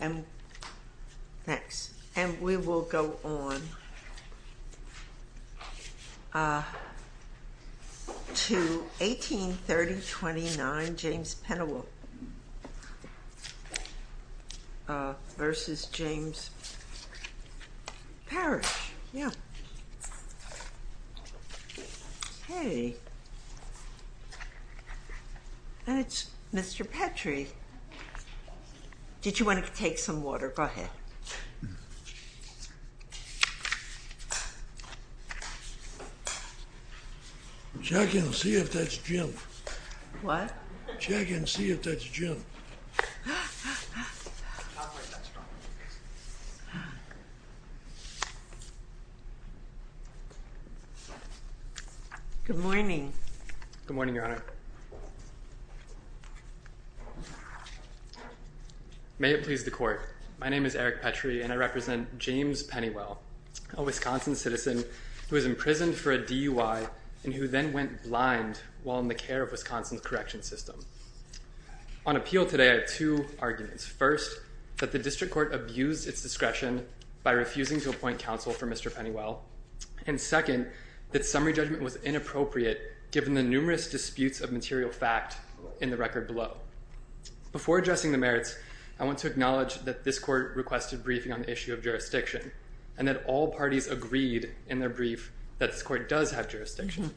And next. And we will go on to 1830-29 James Pennewell v. James Parish. Yeah. Hey. And it's Mr. Petrie. Did you want to take some water? Go ahead. Check and see if that's Jim. What? Check and see if that's Jim. Good morning. Good morning, Mr. Petrie, and I represent James Pennewell, a Wisconsin citizen who was imprisoned for a DUI and who then went blind while in the care of Wisconsin's correction system. On appeal today, I have two arguments. First, that the district court abused its discretion by refusing to appoint counsel for Mr. Pennewell. And second, that summary judgment was inappropriate given the numerous disputes of material fact in the record below. Before addressing the briefing on the issue of jurisdiction and that all parties agreed in their brief that this court does have jurisdiction,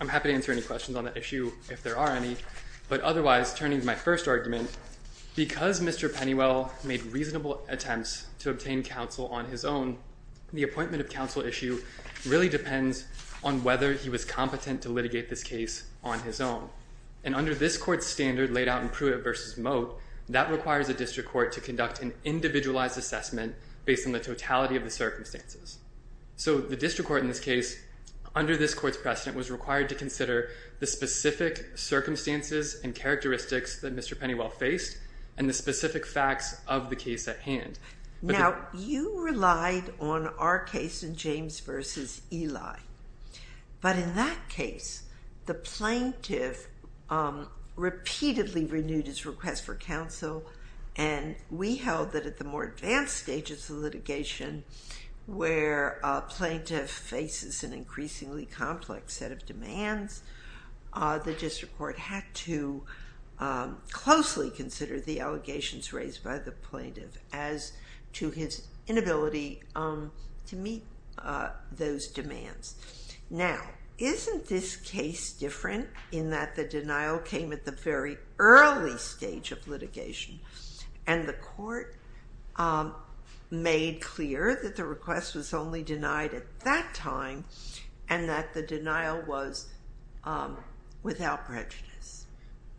I'm happy to answer any questions on that issue if there are any. But otherwise, turning to my first argument, because Mr. Pennewell made reasonable attempts to obtain counsel on his own, the appointment of counsel issue really depends on whether he was competent to litigate this case on his own. And under this court standard laid out in Pruitt v. Moat, that requires a district court to conduct an individualized assessment based on the totality of the circumstances. So, the district court in this case, under this court's precedent, was required to consider the specific circumstances and characteristics that Mr. Pennewell faced and the specific facts of the case at hand. Now, you relied on our case in James v. Eli. But in that case, the plaintiff repeatedly renewed his request for counsel and we held that at the more advanced stages of litigation, where a plaintiff faces an increasingly complex set of demands, the district court had to closely consider the to meet those demands. Now, isn't this case different in that the denial came at the very early stage of litigation and the court made clear that the request was only denied at that time and that the denial was without prejudice?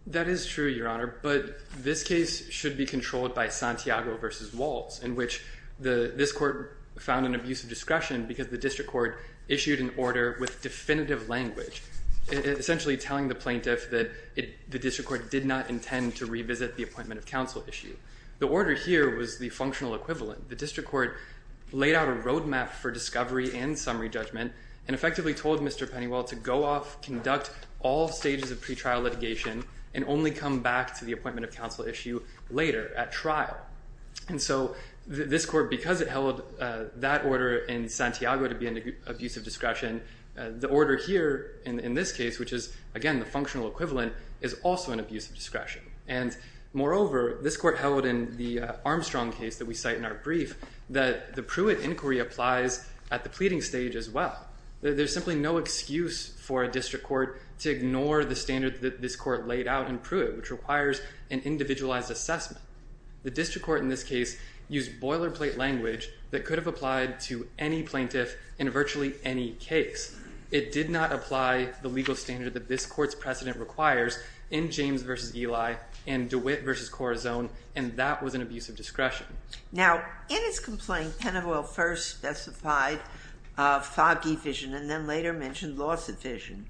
That is true, Your Honor, but this case should be controlled by Santiago v. Waltz, in which this court found an abuse of discretion because the district court issued an order with definitive language, essentially telling the plaintiff that the district court did not intend to revisit the appointment of counsel issue. The order here was the functional equivalent. The district court laid out a roadmap for discovery and summary judgment and effectively told Mr. Pennewell to go off, conduct all stages of pretrial litigation, and only come back to the appointment of counsel issue later at trial. And so this court, because it held that order in Santiago to be an abuse of discretion, the order here in this case, which is, again, the functional equivalent, is also an abuse of discretion. And moreover, this court held in the Armstrong case that we cite in our brief that the Pruitt inquiry applies at the pleading stage as well. There's simply no excuse for a district court to ignore the standard that this court laid out in Pruitt, which requires an individualized assessment. The district court in this case used boilerplate language that could have applied to any plaintiff in virtually any case. It did not apply the legal standard that this court's precedent requires in James v. Eli and DeWitt v. Corazon, and that was an abuse of discretion. Now, in his complaint, Pennewell first specified foggy vision and then later mentioned loss of vision.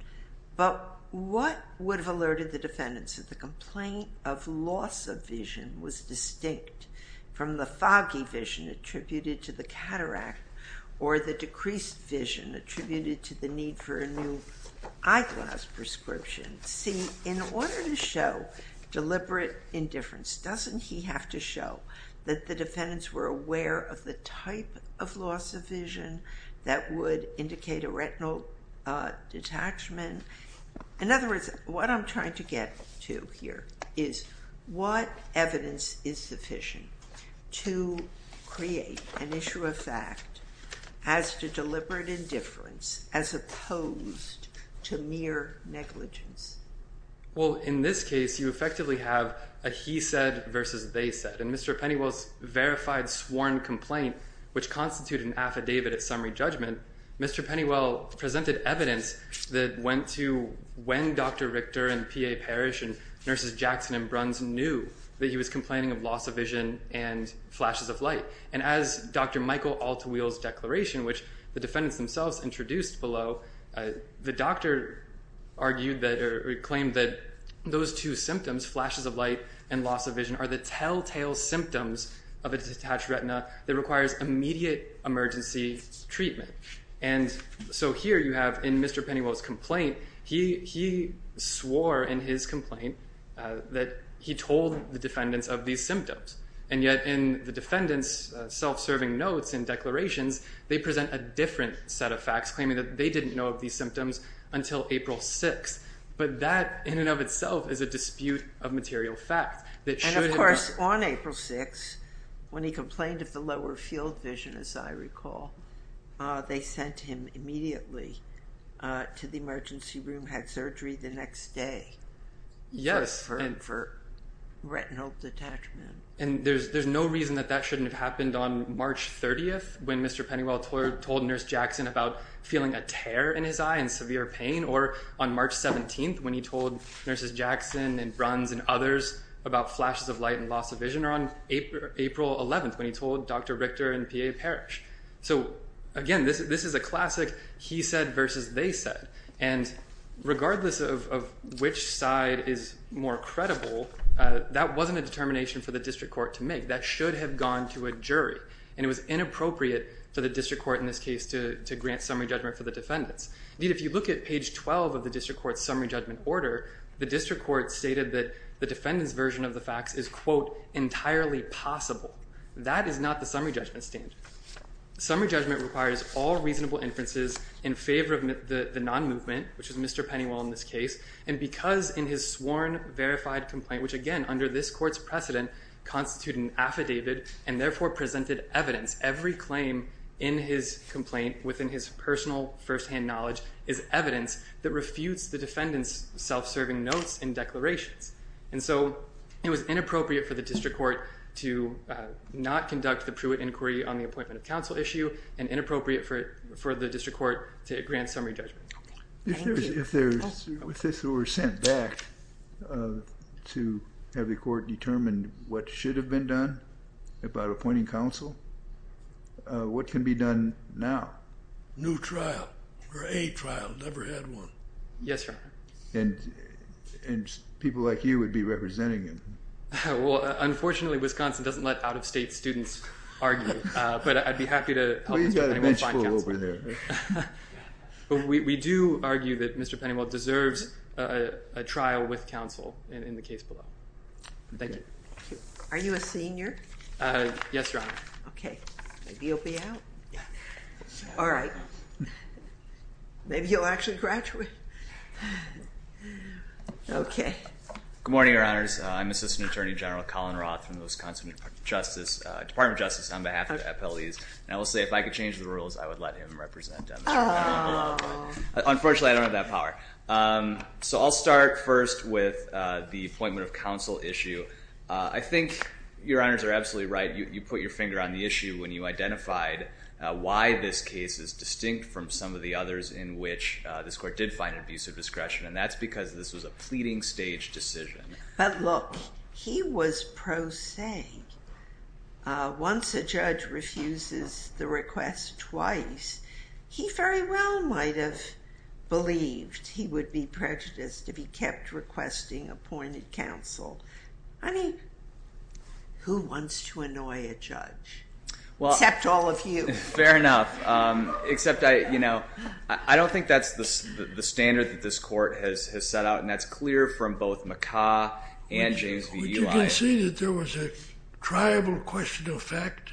But what would have alerted the defendants that the complaint of loss of vision was distinct from the foggy vision attributed to the cataract or the decreased vision attributed to the need for a new eyeglass prescription? See, in order to show deliberate indifference, doesn't he have to show that the defendants were aware of the type of loss of vision that would indicate a retinal detachment? In other words, what I'm trying to get to here is what evidence is sufficient to create an issue of fact as to deliberate indifference as opposed to mere negligence? Well, in this case, you effectively have a he said versus they said. In Mr. Pennewell's verified sworn complaint, which constituted an affidavit of summary judgment, Mr. Pennewell presented evidence that went to when Dr. Richter and P.A. Parrish and Nurses Jackson and Bruns knew that he was complaining of loss of vision and flashes of light. And as Dr. Michael Altweil's declaration, which the defendants themselves introduced below, the doctor argued or claimed that those two symptoms, flashes of light and loss of vision, are the telltale symptoms of a detached retina that requires immediate emergency treatment. And so here you have in Mr. Pennewell's complaint, he swore in his complaint that he told the defendants of these symptoms. And yet in the defendants' self-serving notes and declarations, they present a different set of facts claiming that they didn't know of these symptoms until April 6th. But that in and of itself is a dispute of material fact. And of course, on April 6th, when he complained of the lower field vision, as I recall, they sent him immediately to the emergency room, had surgery the next day. Yes. For retinal detachment. And there's no reason that that shouldn't have happened on March 30th, when Mr. Pennewell told Nurse Jackson about feeling a tear in his eye and severe pain. Or on March 17th, when he told Nurses Jackson and Bruns and others about flashes of light and loss of vision. Or on April 11th, when he told Dr. Richter and P.A. Parrish. So again, this is a classic he said versus they said. And regardless of which side is more credible, that wasn't a determination for the district court to make. That should have gone to a jury. And it was inappropriate for the district court in this case to grant summary judgment for the defendants. Indeed, if you look at page 12 of the district court's summary judgment order, the district court stated that the defendant's version of the facts is, quote, entirely possible. That is not the summary judgment standard. Summary judgment requires all reasonable inferences in favor of the non-movement, which is Mr. Pennewell in this case. And because in his sworn verified complaint, which again under this court's precedent constitute an affidavit and therefore presented evidence, every claim in his complaint within his personal firsthand knowledge is evidence that refutes the defendant's self-serving notes and declarations. And so it was inappropriate for the district court to not conduct the Pruitt inquiry on the appointment of counsel issue and inappropriate for the district court to grant summary judgment. If this were sent back to have the court determine what should have been done about appointing counsel, what can be done now? New trial, or a trial, never had one. Yes, sir. And people like you would be representing him. Well, unfortunately, Wisconsin doesn't let out-of-state students argue, but I'd be happy to... You've got a bench full over there. But we do argue that Mr. Pennewell deserves a trial with counsel in the case below. Thank you. Are you a senior? Yes, Your Honor. Okay. Maybe you'll be out. All right. Maybe you'll actually graduate. Okay. Good morning, Your Honors. I'm Assistant Attorney General Colin Roth from the Wisconsin Department of Justice on behalf of FLEs. And I will say, if I could change the rules, I would let him represent them. Unfortunately, I don't have that power. So I'll start first with the appointment of counsel issue. I think Your Honors are absolutely right. You put your finger on the issue when you identified why this case is distinct from some of the others in which this court did find an abuse of discretion. And that's because this was a pro se. Once a judge refuses the request twice, he very well might have believed he would be prejudiced if he kept requesting appointed counsel. I mean, who wants to annoy a judge? Well... Except all of you. Fair enough. Except I don't think that's the standard that this court has set out. And that's from both McCaw and James V. Elias. Would you concede that there was a triable question of fact?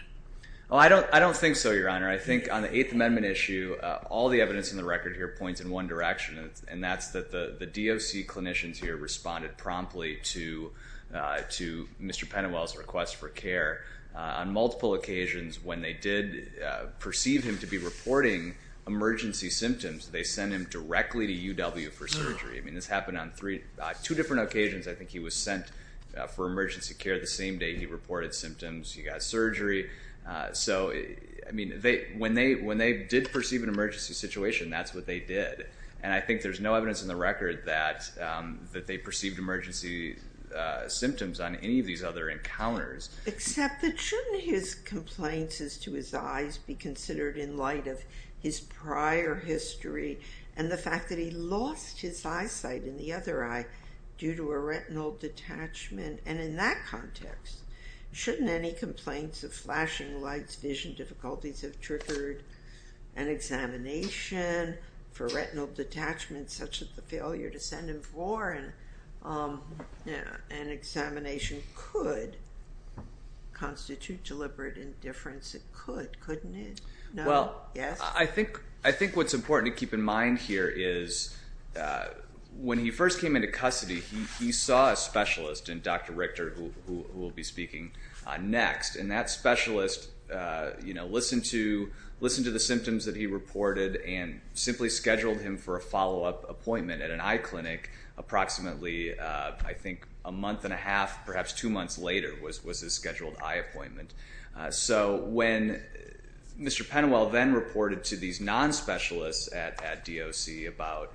Oh, I don't think so, Your Honor. I think on the Eighth Amendment issue, all the evidence in the record here points in one direction, and that's that the DOC clinicians here responded promptly to Mr. Pennewell's request for care on multiple occasions. When they did perceive him to be reporting emergency symptoms, they sent him directly to UW for surgery. I mean, this happened on two different occasions. I think he was sent for emergency care the same day he reported symptoms. He got surgery. So, I mean, when they did perceive an emergency situation, that's what they did. And I think there's no evidence in the record that they perceived emergency symptoms on any of these other encounters. Except that shouldn't his complaints be considered in light of his prior history and the fact that he lost his eyesight in the other eye due to a retinal detachment? And in that context, shouldn't any complaints of flashing lights, vision difficulties have triggered an examination for retinal detachment such as the failure to see? Well, I think what's important to keep in mind here is when he first came into custody, he saw a specialist, and Dr. Richter, who will be speaking next, and that specialist, you know, listened to the symptoms that he reported and simply scheduled him for a follow-up appointment at an eye clinic approximately, I think, a month and a half, perhaps two months later was his Mr. Penwell then reported to these non-specialists at DOC about,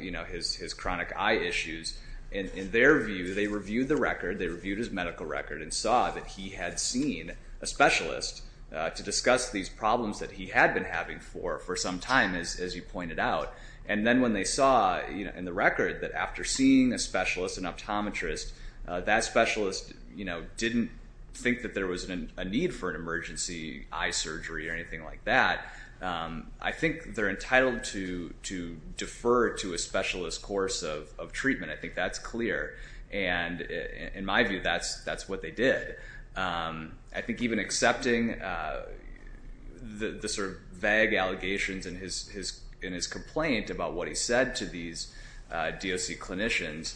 you know, his chronic eye issues. And in their view, they reviewed the record. They reviewed his medical record and saw that he had seen a specialist to discuss these problems that he had been having for some time, as you pointed out. And then when they saw in the record that after seeing a specialist, an optometrist, that specialist, you know, didn't think that there was a need for an emergency eye surgery or anything like that. I think they're entitled to defer to a specialist course of treatment. I think that's clear. And in my view, that's what they did. I think even accepting the sort of allegations and his complaint about what he said to these DOC clinicians,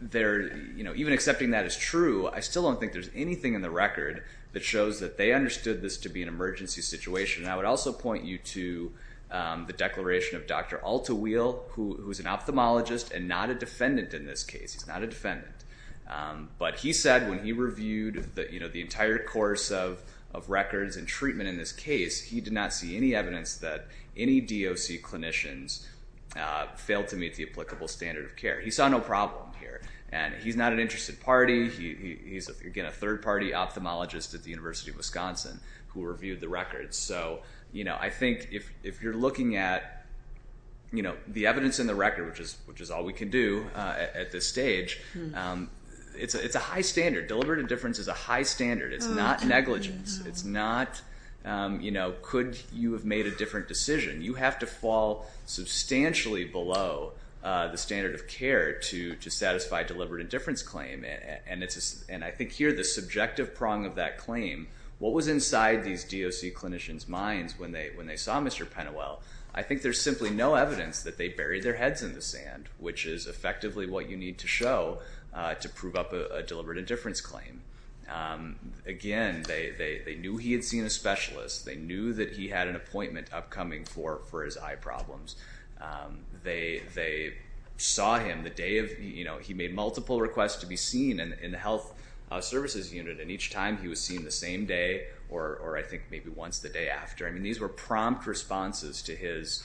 they're, you know, even accepting that as true, I still don't think there's anything in the record that shows that they understood this to be an emergency situation. And I would also point you to the declaration of Dr. Altaweil, who's an ophthalmologist and not a defendant in this case. He's not a defendant. But he said when he reviewed the, you know, the entire course of records and treatment in this case, he did not see any evidence that any DOC clinicians failed to meet the applicable standard of care. He saw no problem here. And he's not an interested party. He's, again, a third-party ophthalmologist at the University of Wisconsin who reviewed the records. So, you know, I think if you're looking at, you know, the evidence in the record, which is all we can do at this stage, it's a high standard. Deliberative difference is a high standard. It's not, you know, could you have made a different decision? You have to fall substantially below the standard of care to satisfy deliberate indifference claim. And I think here, the subjective prong of that claim, what was inside these DOC clinicians' minds when they saw Mr. Pennewell, I think there's simply no evidence that they buried their heads in the sand, which is effectively what you need to show to prove up a deliberate indifference claim. Again, they knew he had seen a specialist. They knew that he had an appointment upcoming for his eye problems. They saw him the day of, you know, he made multiple requests to be seen in the health services unit. And each time he was seen the same day or I think maybe once the day after. I mean, these were prompt responses to his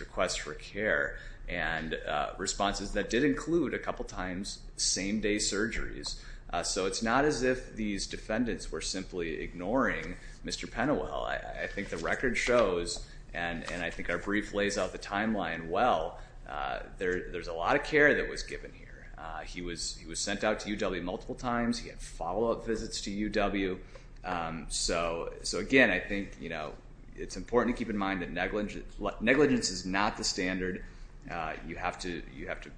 request for care and responses that did include a couple times same-day surgeries. So it's not as if these defendants were simply ignoring Mr. Pennewell. I think the record shows, and I think our brief lays out the timeline well, there's a lot of care that was given here. He was sent out to UW multiple times. He had follow-up visits to UW. So again, I think, you know, it's important to keep in mind that negligence is not the standard. You have to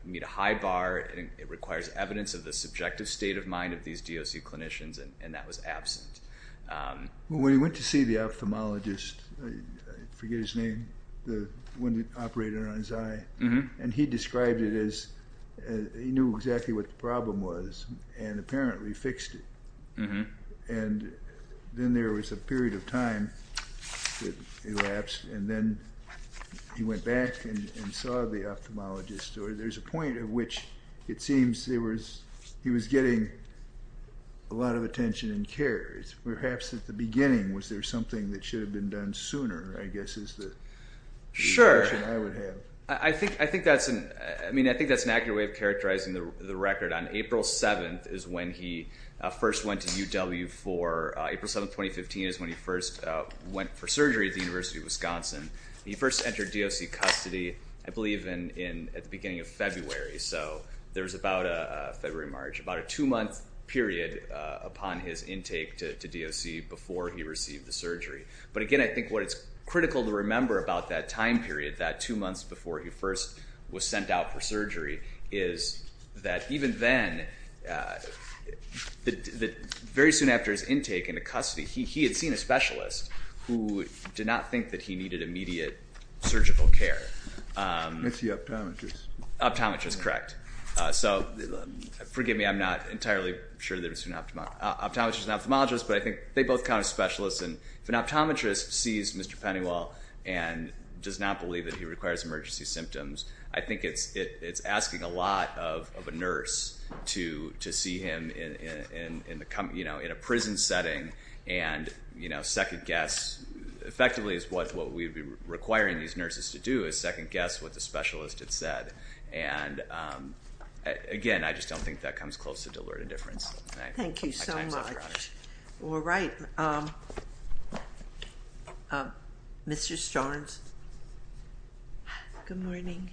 meet a high bar and it requires evidence of the subjective state of mind of these DOC clinicians and that was absent. When he went to see the ophthalmologist, forget his name, the one that operated on his eye, and he described it as he knew exactly what the problem was and apparently fixed it. And then there was a period of time that elapsed and then he went back and saw the ophthalmologist. There's a point at which it seems he was getting a lot of attention and care. Perhaps at the beginning was there something that should have been done sooner, I guess is the impression I would have. Sure. I mean, I think that's an accurate way of characterizing the record. On April 7th is when he first went to UW for, April 7th, 2015 is when he first went for surgery at the University of Wisconsin. He first entered DOC custody, I believe, at the beginning of February. So there was about a, February, March, about a two-month period upon his intake to DOC before he received the surgery. But again, I think what it's critical to remember about that time period, that two months before he was sent out for surgery, is that even then, very soon after his intake into custody, he had seen a specialist who did not think that he needed immediate surgical care. It's the optometrist. Optometrist, correct. So forgive me, I'm not entirely sure that it was an optometrist and ophthalmologist, but I think they both count as specialists. And if an optometrist sees Mr. Starnes, I think it's asking a lot of a nurse to see him in a prison setting and second guess, effectively, is what we'd be requiring these nurses to do, is second guess what the specialist had said. And again, I just don't think that comes close to deliberate indifference. Thank you so much. All right. Mr. Starnes? Good morning.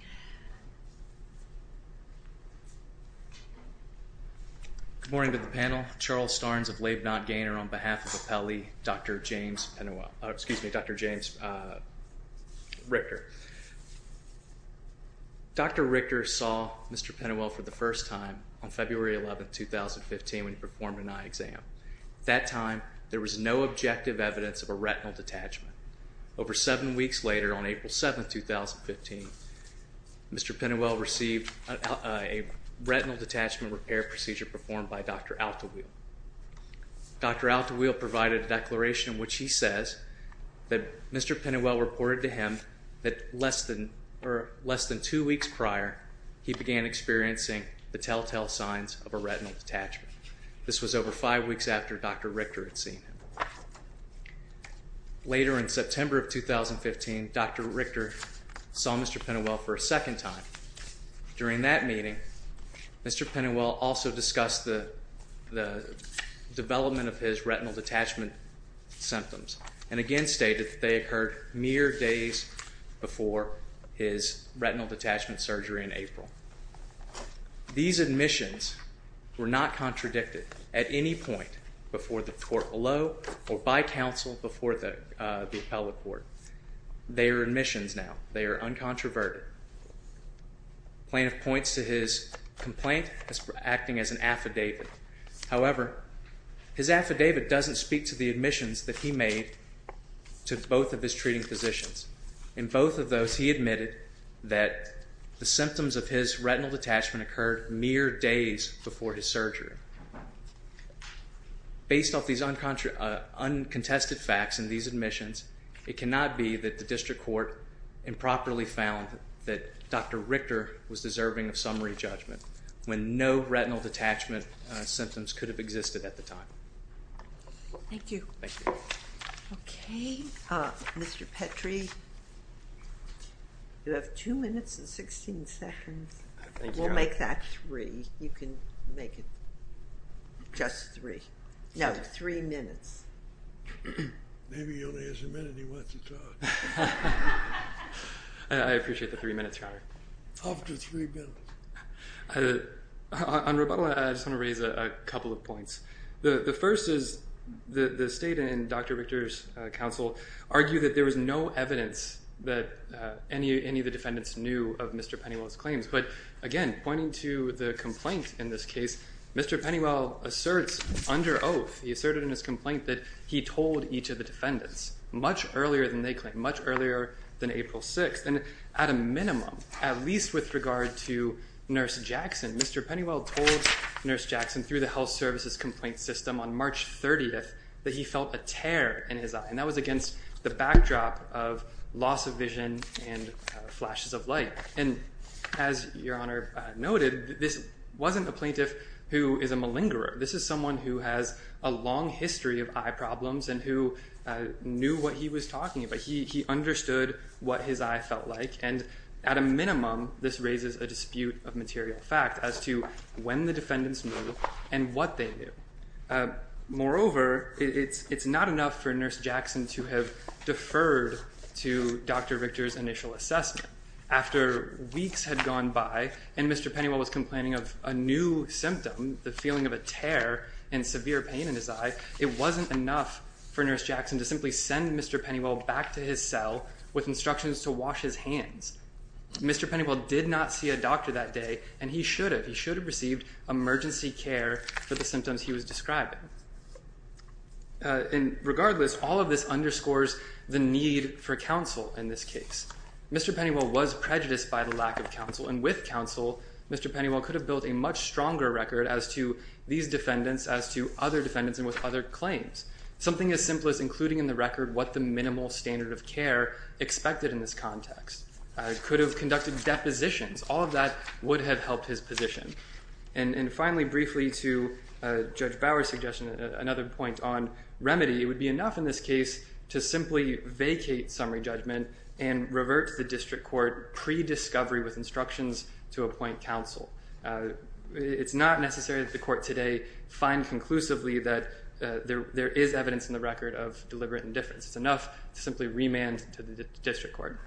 Good morning to the panel. Charles Starnes of Labe Nott Gainer on behalf of Apelli, Dr. James Penuel, excuse me, Dr. James Richter. Dr. Richter saw Mr. Penuel for the first time on February 11, 2015, when he performed an eye exam. At that time, there was no objective evidence of a retinal detachment. Over seven weeks later, on April 7, 2015, Mr. Penuel received a retinal detachment repair procedure performed by Dr. Altaweil. Dr. Altaweil provided a declaration in which he says that Mr. Penuel reported to him that less than two weeks prior, he began experiencing the telltale signs of a retinal detachment. This was over five weeks after Dr. Richter. Later in September of 2015, Dr. Richter saw Mr. Penuel for a second time. During that meeting, Mr. Penuel also discussed the development of his retinal detachment symptoms and again stated that they occurred mere days before his retinal detachment surgery in April. These admissions were not contradicted at any point before the court below or by counsel before the appellate court. They are admissions now. They are uncontroverted. The plaintiff points to his complaint as acting as an affidavit. However, his affidavit doesn't speak to the admissions that he made to both of his treating physicians. In both of those, he admitted that the symptoms of his retinal detachment occurred mere days before his surgery. Based off these uncontested facts and these admissions, it cannot be that the district court improperly found that Dr. Richter was deserving of summary judgment when no retinal detachment symptoms could have existed at the time. Thank you. Thank you. Okay, Mr. Petrie, you have two minutes and 16 seconds. We'll make that three. You can make it just three. No, three minutes. Maybe he only has a minute he wants to talk. I appreciate the three minutes, Your Honor. Up to three minutes. On rebuttal, I just want to raise a couple of points. The first is the state and Dr. Richter's counsel argued that there was no evidence that any of the defendants knew of Mr. Pennywell's claims. But again, pointing to the complaint in this case, Mr. Pennywell asserts under oath, he asserted in his complaint that he told each of the defendants much earlier than they claim, much earlier than April 6th. And at a minimum, at least with regard to Nurse Jackson, Mr. Pennywell told Nurse Jackson through the health services complaint system on March 30th that he felt a tear in his eye. And that was against the backdrop of loss of vision and flashes of light. And as Your Honor noted, this wasn't a plaintiff who is a malingerer. This is someone who has a long history of eye problems and who knew what he was talking about. He understood what his eye felt like. And at a minimum, this raises a dispute of material fact as to when the defendants knew and what they knew. Moreover, it's not enough for Nurse Jackson to have deferred to Dr. Richter's initial assessment. After weeks had gone by and Mr. Pennywell was complaining of a new symptom, the feeling of a tear and severe pain in his eye, it wasn't enough for Nurse Jackson to simply send Mr. Pennywell back to his cell with instructions to wash his hands. Mr. Pennywell did not see a doctor that day, and he should have. He should have received emergency care for the symptoms he was describing. And regardless, all of this underscores the need for counsel in this case. Mr. Pennywell was prejudiced by the lack of counsel. And with counsel, Mr. Pennywell could have built a much stronger record as to these defendants, as to other defendants, and with other claims. Something as simple as including in the record what the minimal standard of care expected in this context. He could have conducted depositions. All of that would have helped his position. And finally, briefly, to Judge Bower's suggestion, another point on remedy, it would be enough in this case to simply vacate summary judgment and revert to the district court pre-discovery with instructions to appoint counsel. It's not necessary that the court today find conclusively that there is evidence in the record of deliberate indifference. It's enough to simply remand to the district court.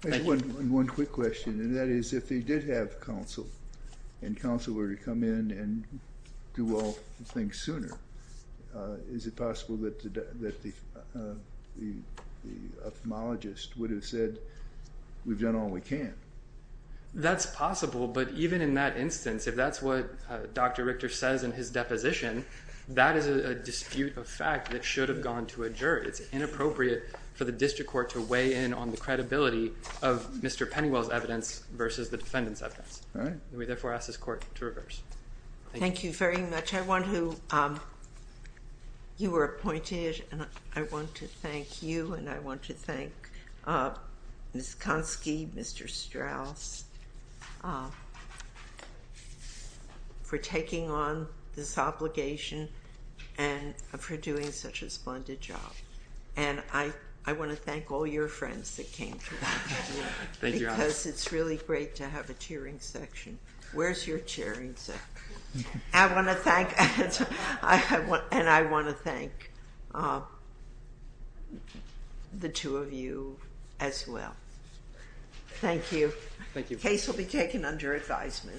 Thank you. One quick question, and that is if they did have counsel, and counsel were to come in and do all things sooner, is it possible that the ophthalmologist would have said, we've done all we can? That's possible, but even in that instance, if that's what Dr. Richter says in his deposition, that is a dispute of fact that should have gone to a jury. It's inappropriate for the district court to weigh in on the credibility of Mr. Pennywell's evidence versus the defendant's evidence. We therefore ask this court to reverse. Thank you very much. I want to, you were appointed, and I want to thank you, and I want to thank Ms. Konsky, Mr. Strauss, for taking on this obligation and for doing such a splendid job, and I want to thank all your friends that came through, because it's really great to have a cheering section. Where's your cheering section? I want to thank, and I want to thank the two of you as well. Thank you. The case will be taken under advisement.